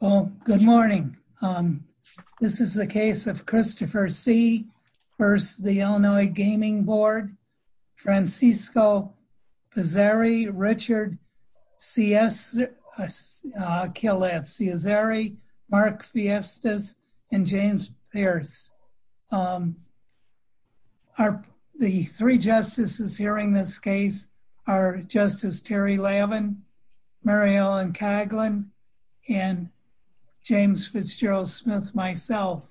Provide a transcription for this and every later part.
Well, good morning. This is the case of Christopher C versus the Illinois Gaming Board. Francisco Pizzeri, Richard Ciazzeri, Mark Fiestas, and James Pierce. The three justices hearing this case are Justice Terry Lavin, Mary Ellen Caglin, and James Fitzgerald Smith, myself.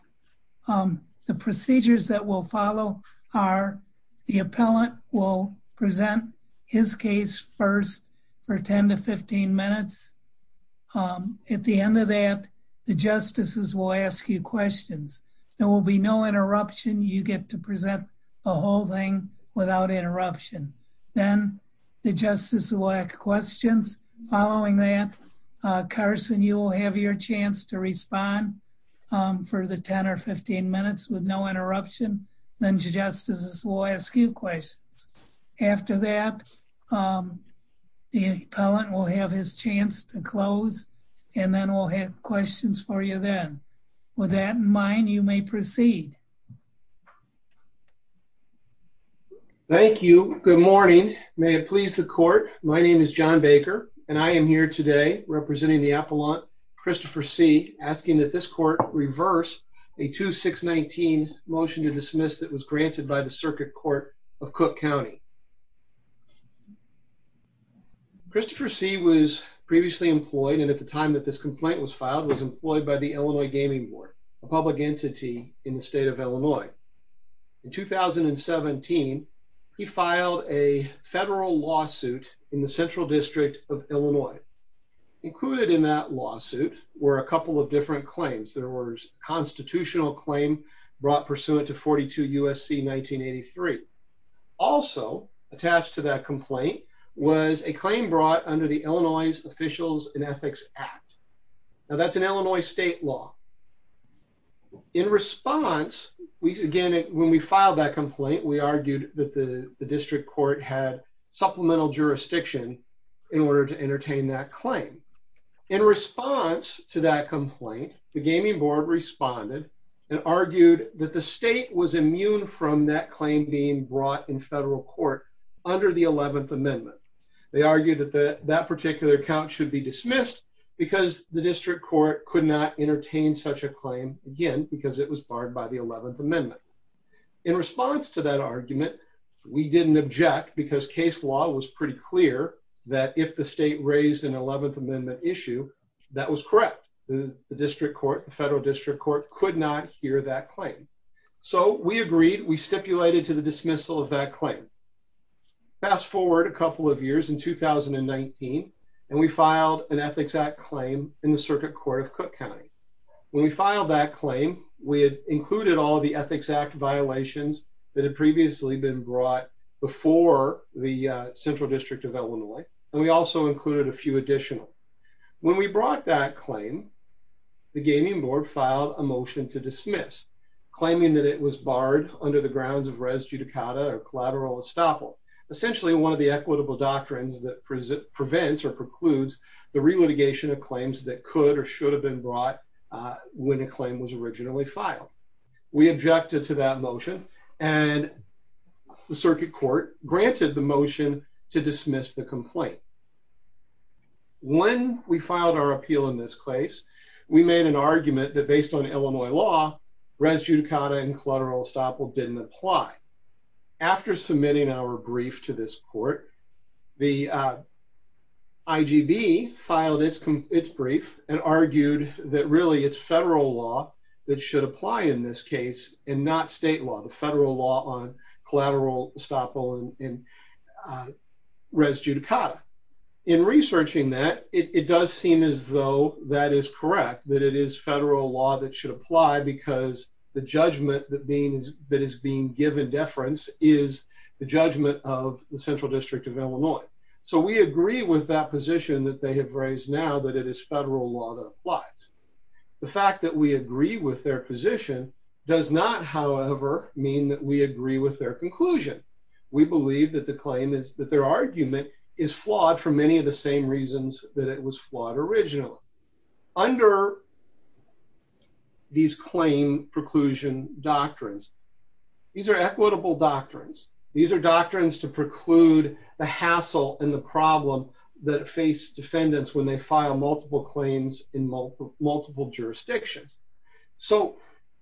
The procedures that will follow are the appellant will present his case first for 10-15 minutes. At the end of that, the justices will ask you questions. There will be no interruption. You get to present the whole thing without interruption. Then the justices will ask questions. Following that, Carson, you will have your chance to respond for the 10-15 minutes with no interruption. Then the justices will ask you questions. After that, the appellant will have his chance to close, and then we'll have questions for you then. With that in mind, you may proceed. Thank you. Good morning. May it please the court, my name is John Baker, and I am here today representing the appellant Christopher C, asking that this court reverse a 2-6-19 motion to dismiss that was granted by the Circuit Court of Cook County. Christopher C. was previously employed, and at the time that this complaint was filed, was employed by the Illinois Gaming Board, a public entity in the state of Illinois. In 2017, he filed a federal lawsuit in the Central District of Illinois. Included in that lawsuit were a couple of different claims. There was a constitutional claim brought pursuant to 42 U.S.C. 1983. Also attached to that complaint was a claim brought under the Illinois Officials and Ethics Act. Now, that's an Illinois state law. In response, again, when we filed that complaint, we argued that the district court had supplemental jurisdiction in order to entertain that claim. In response to that complaint, the Gaming Board responded and argued that the state was immune from that claim being brought in federal court under the 11th Amendment. They argued that that particular account should be dismissed because the district court could not entertain such a claim, again, because it was barred by the 11th Amendment. In response to that argument, we didn't object because case law was pretty clear that if the state raised an 11th Amendment issue, that was correct. The district court, the federal district court, could not hear that claim. So we agreed. We stipulated to the dismissal of that claim. Fast forward a couple of years in 2019, and we filed an Ethics Act claim in the Circuit Court of Cook County. When we filed that claim, we had included all the Ethics Act violations that had previously been brought before the Central District of Illinois, and we also included a few additional. When we brought that claim, the Gaming Board filed a motion to dismiss, claiming that it was barred under the grounds of res judicata or collateral estoppel, essentially one of the equitable doctrines that prevents or precludes the re-litigation of claims that could or should have been brought when a claim was originally filed. We objected to that motion, and the Circuit Court granted the motion to dismiss the complaint. When we filed our appeal in this case, we made an argument that based on Illinois law, res judicata and collateral estoppel didn't apply. In researching that, it does seem as though that is correct, that it is federal law that should apply because the judgment that is being given deference is the judgment of the Central District of Illinois. So we agree with that position that they have raised now that it is federal law that applies. The fact that we agree with their position does not, however, mean that we agree with their conclusion. We believe that the claim is that their argument is flawed for many of the same reasons that it was flawed originally. Under these claim preclusion doctrines, these are equitable doctrines. These are doctrines to preclude the hassle and the problem that face defendants when they file multiple claims in multiple jurisdictions. So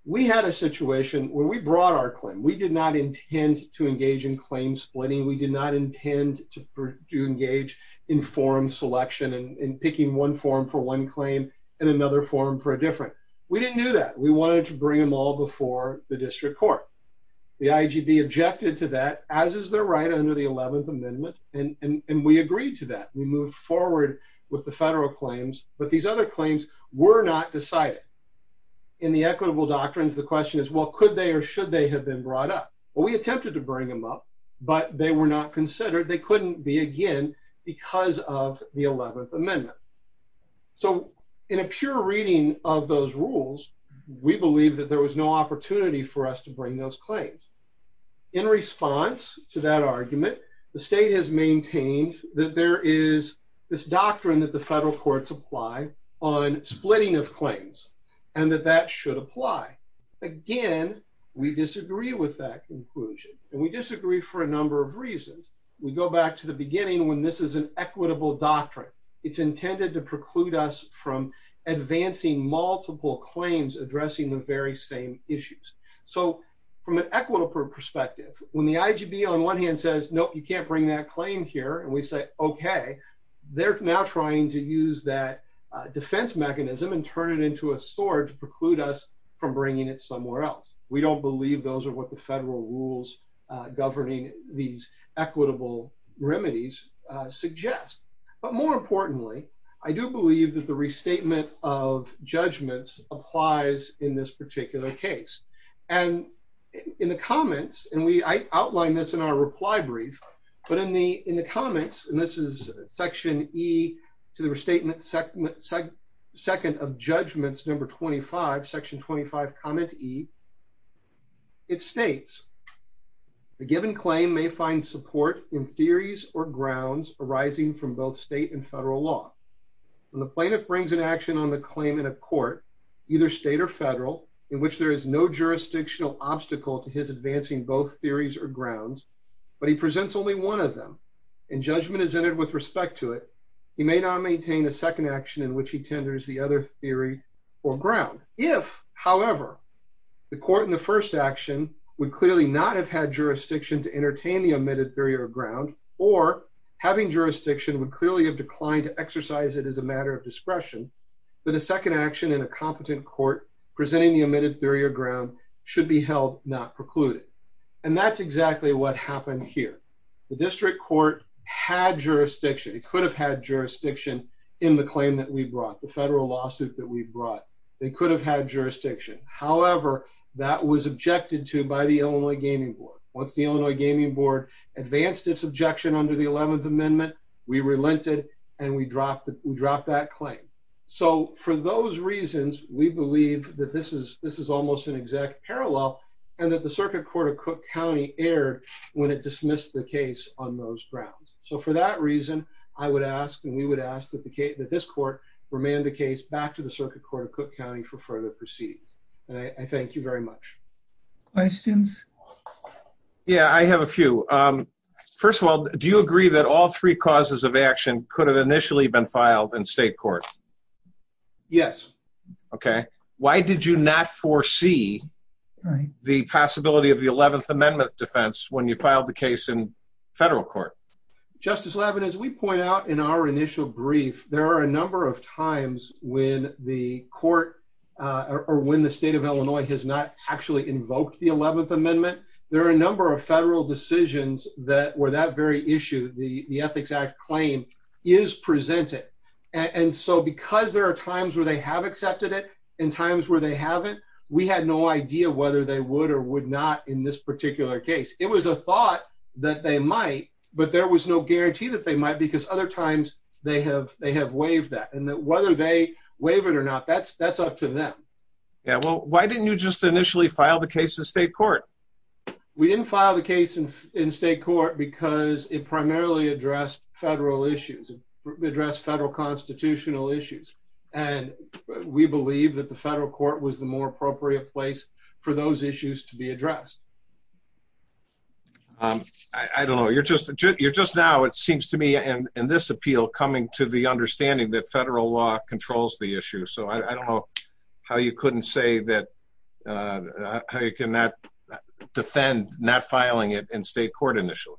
we had a situation where we brought our claim. We did not intend to engage in claim splitting. We did not intend to engage in forum selection and picking one forum for one claim and another forum for a different. We didn't do that. We wanted to bring them all before the district court. The IGB objected to that, as is their right under the 11th Amendment, and we agreed to that. We moved forward with the federal claims, but these other claims were not decided. In the equitable doctrines, the question is, well, could they or should they have been brought up? Well, we attempted to bring them up, but they were not considered. They couldn't be again because of the 11th Amendment. So in a pure reading of those rules, we believe that there was no opportunity for us to bring those claims. In response to that argument, the state has maintained that there is this doctrine that the federal courts apply on splitting of claims and that that should apply. Again, we disagree with that conclusion, and we disagree for a number of reasons. We go back to the beginning when this is an equitable doctrine. It's intended to preclude us from advancing multiple claims addressing the very same issues. So from an equitable perspective, when the IGB on one hand says, nope, you can't bring that claim here, and we say, okay, they're now trying to use that defense mechanism and turn it into a sword to preclude us from bringing it somewhere else. We don't believe those are what the federal rules governing these equitable remedies suggest. But more importantly, I do believe that the restatement of judgments applies in this particular case. In the comments, and I outlined this in our reply brief, but in the comments, and this is section E to the restatement second of judgments number 25, section 25, comment E, it states, the given claim may find support in theories or grounds arising from both state and federal law. When the plaintiff brings an action on the claim in a court, either state or federal, in which there is no jurisdictional obstacle to his advancing both theories or grounds, but he presents only one of them, and judgment is entered with respect to it, he may not maintain a second action in which he tenders the other theory or ground. If, however, the court in the first action would clearly not have had jurisdiction to entertain the omitted theory or ground, or having jurisdiction would clearly have declined to exercise it as a matter of discretion, then a second action in a competent court presenting the omitted theory or ground should be held not precluded. And that's exactly what happened here. The district court had jurisdiction. It could have had jurisdiction in the claim that we brought, the federal lawsuit that we brought. They could have had jurisdiction. However, that was objected to by the Illinois Gaming Board. Once the Illinois Gaming Board advanced its objection under the 11th Amendment, we relented and we dropped that claim. So for those reasons, we believe that this is almost an exact parallel, and that the Circuit Court of Cook County erred when it dismissed the case on those grounds. So for that reason, I would ask and we would ask that this court remand the case back to the Circuit Court of Cook County for further proceedings. And I thank you very much. Questions? Yeah, I have a few. First of all, do you agree that all three causes of action could have initially been filed in state court? Yes. Why did you not foresee the possibility of the 11th Amendment defense when you filed the case in federal court? Justice Levin, as we point out in our initial brief, there are a number of times when the court or when the state of Illinois has not actually invoked the 11th Amendment. There are a number of federal decisions that were that very issue. The Ethics Act claim is presented. And so because there are times where they have accepted it and times where they haven't, we had no idea whether they would or would not in this particular case. It was a thought that they might, but there was no guarantee that they might because other times they have waived that. And whether they waive it or not, that's up to them. Yeah, well, why didn't you just initially file the case in state court? We didn't file the case in state court because it primarily addressed federal issues, addressed federal constitutional issues. And we believe that the federal court was the more appropriate place for those issues to be addressed. I don't know. You're just now, it seems to me, in this appeal, coming to the understanding that federal law controls the issue. So I don't know how you couldn't say that, how you cannot defend not filing it in state court initially.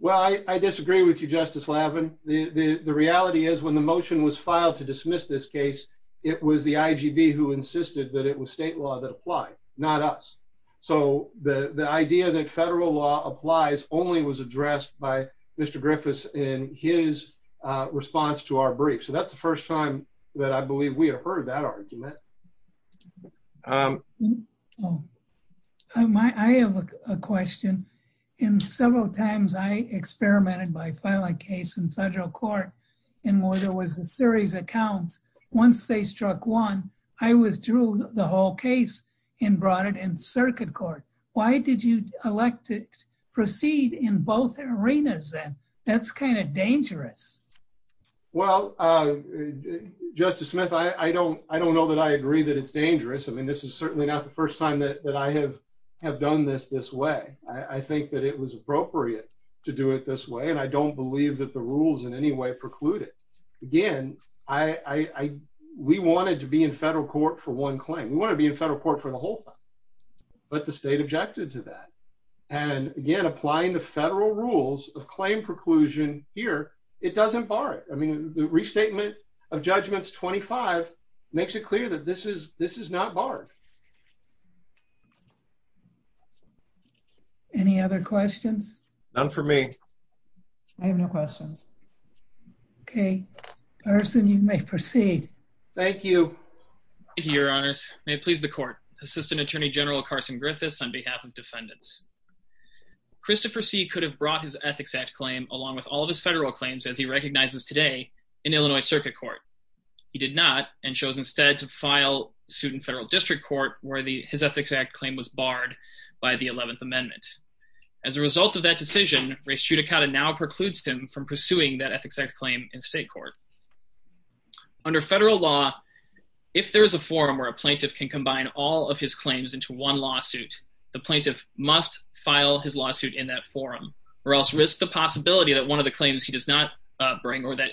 Well, I disagree with you, Justice Lavin. The reality is when the motion was filed to dismiss this case, it was the IGB who insisted that it was state law that applied, not us. So the idea that federal law applies only was addressed by Mr. Griffiths in his response to our brief. So that's the first time that I believe we have heard that argument. I have a question. Several times I experimented by filing a case in federal court and there was a series of counts. Once they struck one, I withdrew the whole case and brought it in circuit court. Why did you elect to proceed in both arenas then? That's kind of dangerous. Well, Justice Smith, I don't know that I agree that it's dangerous. I mean, this is certainly not the first time that I have done this this way. I think that it was appropriate to do it this way. And I don't believe that the rules in any way preclude it. Again, we wanted to be in federal court for one claim. We want to be in federal court for the whole time. But the state objected to that. And again, applying the federal rules of claim preclusion here, it doesn't bar it. I mean, the restatement of judgments 25 makes it clear that this is not barred. Any other questions? None for me. I have no questions. Okay. Arson, you may proceed. Thank you. Thank you, Your Honor. May it please the court. Assistant Attorney General Carson Griffiths on behalf of defendants. Christopher C. could have brought his Ethics Act claim along with all of his federal claims as he recognizes today in Illinois circuit court. He did not and chose instead to file suit in federal district court where his Ethics Act claim was barred by the 11th Amendment. As a result of that decision, race judicata now precludes him from pursuing that Ethics Act claim in state court. Under federal law, if there is a forum where a plaintiff can combine all of his claims into one lawsuit, the plaintiff must file his lawsuit in that forum or else risk the possibility that one of the claims he does not bring or that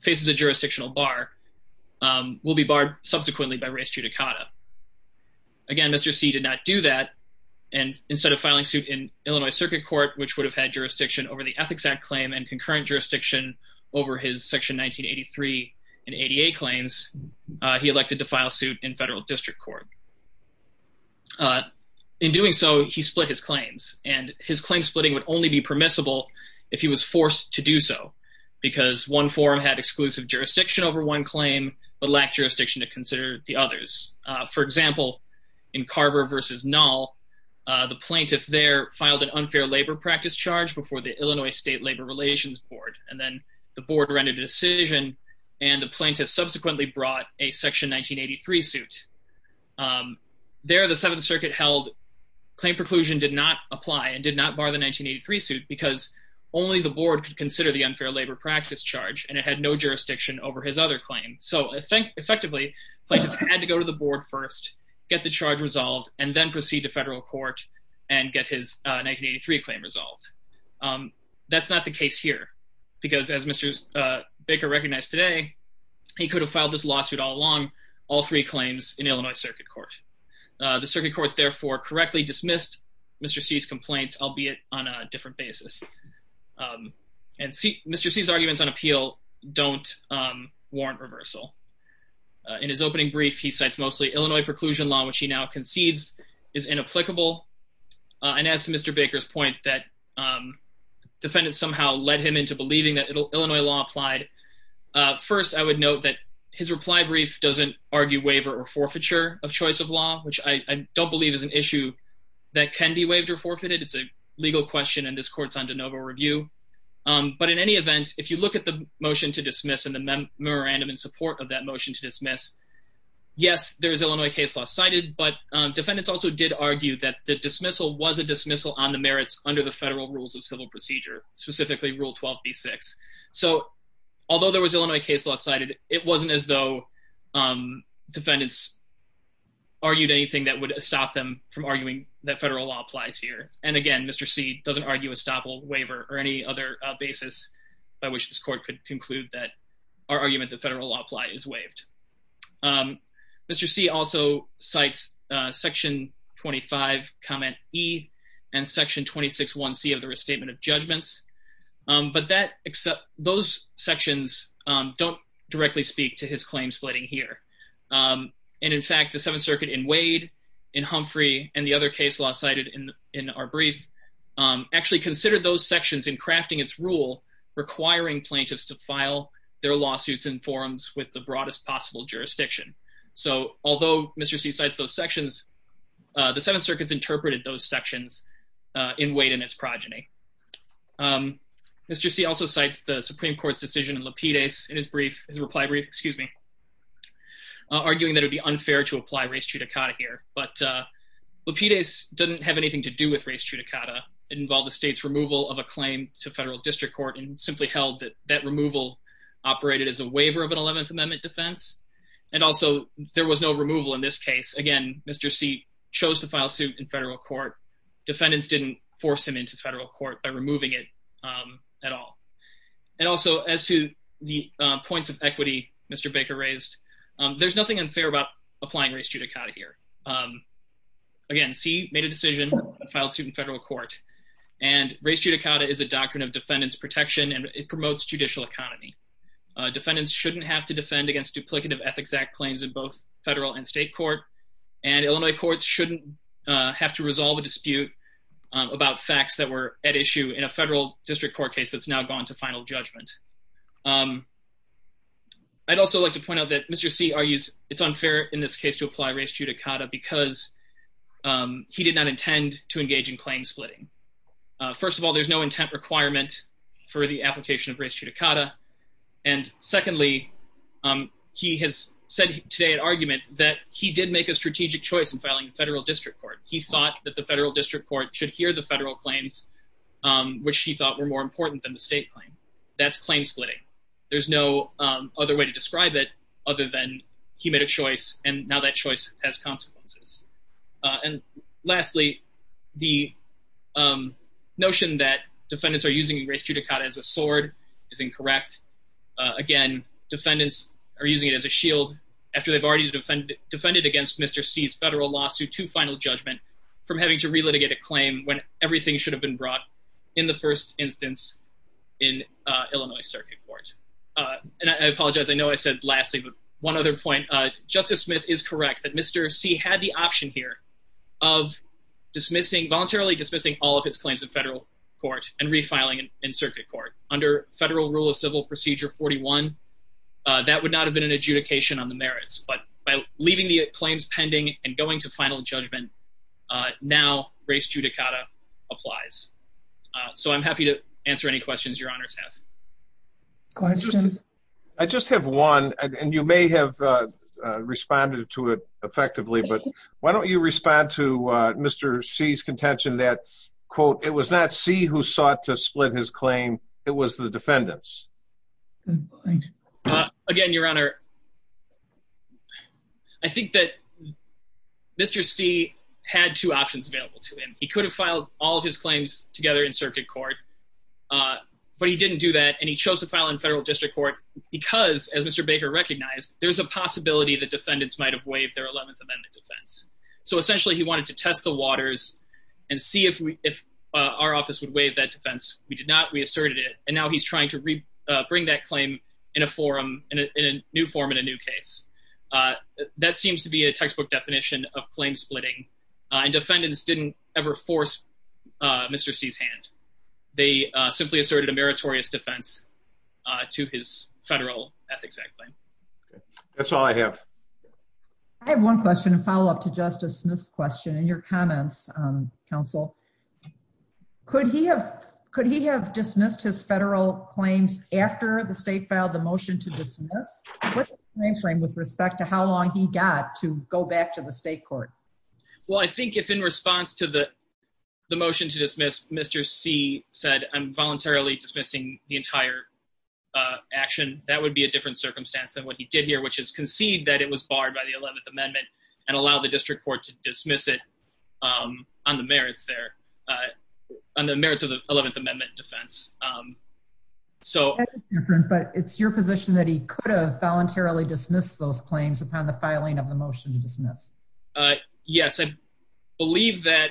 faces a jurisdictional bar will be barred subsequently by race judicata. Again, Mr. C. did not do that. And instead of filing suit in Illinois circuit court, which would have had jurisdiction over the Ethics Act claim and concurrent jurisdiction over his Section 1983 and ADA claims, he elected to file suit in federal district court. In doing so, he split his claims, and his claim splitting would only be permissible if he was forced to do so, because one forum had exclusive jurisdiction over one claim but lacked jurisdiction to consider the others. For example, in Carver v. Nall, the plaintiff there filed an unfair labor practice charge before the Illinois State Labor Relations Board, and then the board rendered a decision, and the plaintiff subsequently brought a Section 1983 suit. There, the Seventh Circuit held claim preclusion did not apply and did not bar the 1983 suit because only the board could consider the unfair labor practice charge, and it had no jurisdiction over his other claim. So effectively, the plaintiff had to go to the board first, get the charge resolved, and then proceed to federal court and get his 1983 claim resolved. That's not the case here, because as Mr. Baker recognized today, he could have filed this lawsuit all along, all three claims in Illinois circuit court. The circuit court therefore correctly dismissed Mr. C.'s complaint, albeit on a different basis. And Mr. C.'s arguments on appeal don't warrant reversal. In his opening brief, he cites mostly Illinois preclusion law, which he now concedes is inapplicable. And as to Mr. Baker's point that defendants somehow led him into believing that Illinois law applied, first, I would note that his reply brief doesn't argue waiver or forfeiture of choice of law, which I don't believe is an issue that can be waived or forfeited. It's a legal question, and this court's on de novo review. But in any event, if you look at the motion to dismiss and the memorandum in support of that motion to dismiss, yes, there is Illinois case law cited, but defendants also did argue that the dismissal was a dismissal on the merits under the federal rules of civil procedure, specifically Rule 12b-6. So although there was Illinois case law cited, it wasn't as though defendants argued anything that would stop them from arguing that federal law applies here. And again, Mr. C doesn't argue a stop or waiver or any other basis by which this court could conclude that our argument that federal law apply is waived. Mr. C also cites Section 25, Comment E and Section 26-1C of the Restatement of Judgments. But those sections don't directly speak to his claim splitting here. And in fact, the Seventh Circuit in Wade, in Humphrey, and the other case law cited in our brief actually considered those sections in crafting its rule, requiring plaintiffs to file their lawsuits in forums with the broadest possible jurisdiction. So although Mr. C cites those sections, the Seventh Circuit's interpreted those sections in Wade and his progeny. Mr. C also cites the Supreme Court's decision in Lapides in his reply brief, arguing that it would be unfair to apply res judicata here. But Lapides didn't have anything to do with res judicata. It involved the state's removal of a claim to federal district court and simply held that that removal operated as a waiver of an Eleventh Amendment defense. And also, there was no removal in this case. Again, Mr. C chose to file suit in federal court. Defendants didn't force him into federal court by removing it at all. And also, as to the points of equity Mr. Baker raised, there's nothing unfair about applying res judicata here. Again, C made a decision to file suit in federal court. And res judicata is a doctrine of defendant's protection, and it promotes judicial economy. Defendants shouldn't have to defend against duplicative Ethics Act claims in both federal and state court. And Illinois courts shouldn't have to resolve a dispute about facts that were at issue in a federal district court case that's now gone to final judgment. I'd also like to point out that Mr. C argues it's unfair in this case to apply res judicata because he did not intend to engage in claim splitting. First of all, there's no intent requirement for the application of res judicata. And secondly, he has said today an argument that he did make a strategic choice in filing in federal district court. He thought that the federal district court should hear the federal claims, which he thought were more important than the state claim. That's claim splitting. There's no other way to describe it other than he made a choice, and now that choice has consequences. And lastly, the notion that defendants are using res judicata as a sword is incorrect. Again, defendants are using it as a shield after they've already defended against Mr. C's federal lawsuit to final judgment from having to relitigate a claim when everything should have been brought in the first instance in Illinois circuit court. And I apologize, I know I said lastly, but one other point. Justice Smith is correct that Mr. C had the option here of voluntarily dismissing all of his claims in federal court and refiling in circuit court. Under federal rule of civil procedure 41, that would not have been an adjudication on the merits. But by leaving the claims pending and going to final judgment, now res judicata applies. So I'm happy to answer any questions your honors have. Questions? I just have one, and you may have responded to it effectively, but why don't you respond to Mr. C's contention that, quote, it was not C who sought to split his claim. It was the defendants. Again, your honor. I think that Mr. C had two options available to him. He could have filed all of his claims together in circuit court, but he didn't do that. And he chose to file in federal district court because, as Mr. Baker recognized, there's a possibility that defendants might have waived their 11th Amendment defense. So essentially, he wanted to test the waters and see if we if our office would waive that defense. We did not. We asserted it. And now he's trying to bring that claim in a forum in a new form in a new case. That seems to be a textbook definition of claim splitting. And defendants didn't ever force Mr. C's hand. They simply asserted a meritorious defense to his federal Ethics Act claim. That's all I have. I have one question to follow up to Justice Smith's question and your comments, counsel. Could he have dismissed his federal claims after the state filed the motion to dismiss? What's the frame frame with respect to how long he got to go back to the state court? Well, I think if in response to the motion to dismiss, Mr. C said, I'm voluntarily dismissing the entire action. That would be a different circumstance than what he did here, which is concede that it was barred by the 11th Amendment and allow the district court to dismiss it on the merits of the 11th Amendment defense. But it's your position that he could have voluntarily dismissed those claims upon the filing of the motion to dismiss. Yes, I believe that.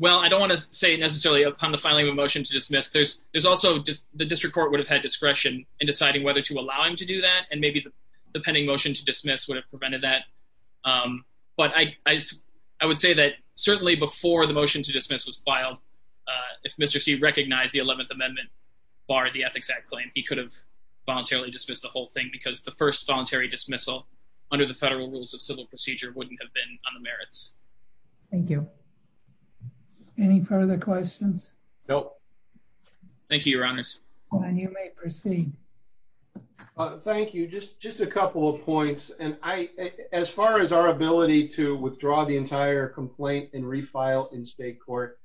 Well, I don't want to say necessarily upon the filing of a motion to dismiss. There's also the district court would have had discretion in deciding whether to allow him to do that. And maybe the pending motion to dismiss would have prevented that. But I would say that certainly before the motion to dismiss was filed, if Mr. C recognized the 11th Amendment barred the Ethics Act claim, he could have voluntarily dismissed the whole thing because the first voluntary dismissal under the federal rules of civil procedure wouldn't have been on the merits. Thank you. Any further questions? Nope. Thank you, Your Honors. And you may proceed. Thank you. Just a couple of points. And as far as our ability to withdraw the entire complaint and refile in state court,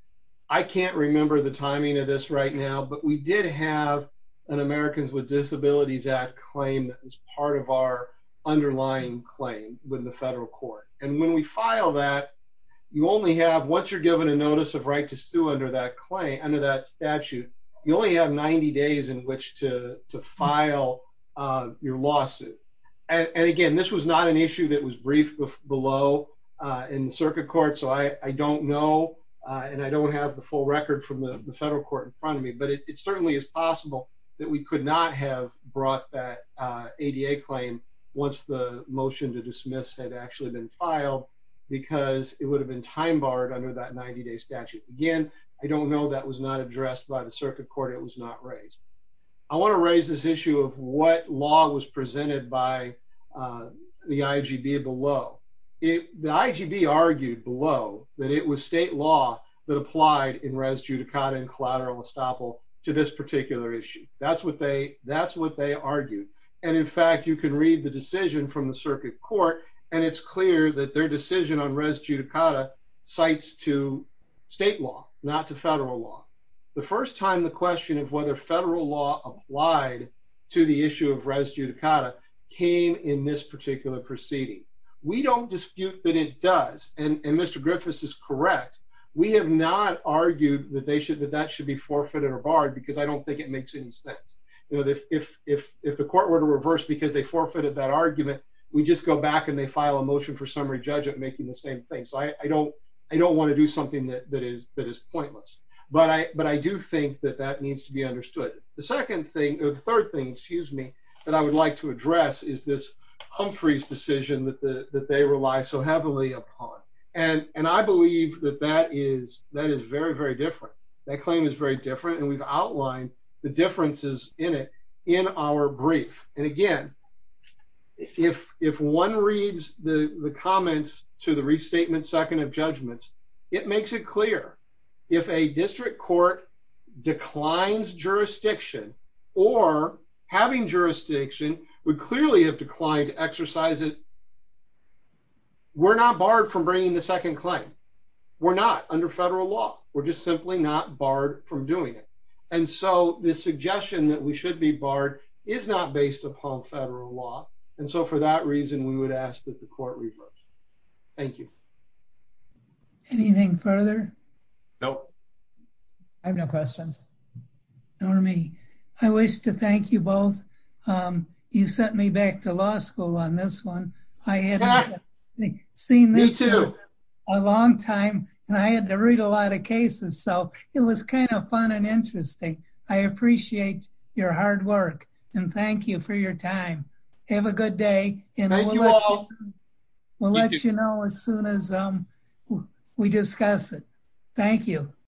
I can't remember the timing of this right now. But we did have an Americans with Disabilities Act claim that was part of our underlying claim with the federal court. And when we file that, you only have once you're given a notice of right to sue under that claim, under that statute, you only have 90 days in which to file your lawsuit. And again, this was not an issue that was briefed below in circuit court. So I don't know and I don't have the full record from the federal court in front of me. But it certainly is possible that we could not have brought that ADA claim once the motion to dismiss had actually been filed because it would have been time barred under that 90-day statute. Again, I don't know that was not addressed by the circuit court. It was not raised. I want to raise this issue of what law was presented by the IGB below. The IGB argued below that it was state law that applied in res judicata and collateral estoppel to this particular issue. That's what they argued. And in fact, you can read the decision from the circuit court, and it's clear that their decision on res judicata cites to state law, not to federal law. The first time the question of whether federal law applied to the issue of res judicata came in this particular proceeding. We don't dispute that it does. And Mr. Griffiths is correct. We have not argued that that should be forfeited or barred because I don't think it makes any sense. If the court were to reverse because they forfeited that argument, we just go back and they file a motion for summary judge at making the same thing. So I don't want to do something that is pointless. But I do think that that needs to be understood. The third thing that I would like to address is this Humphreys decision that they rely so heavily upon. And I believe that that is very, very different. That claim is very different, and we've outlined the differences in it in our brief. And again, if one reads the comments to the restatement second of judgments, it makes it clear. If a district court declines jurisdiction or having jurisdiction, we clearly have declined to exercise it. We're not barred from bringing the second claim. We're not under federal law. We're just simply not barred from doing it. And so the suggestion that we should be barred is not based upon federal law. And so for that reason, we would ask that the court reverse. Thank you. Anything further? No. I have no questions. Normie, I wish to thank you both. You sent me back to law school on this one. I hadn't seen this in a long time. And I had to read a lot of cases. So it was kind of fun and interesting. I appreciate your hard work. And thank you for your time. Have a good day. Thank you all. We'll let you know as soon as we discuss it. Thank you.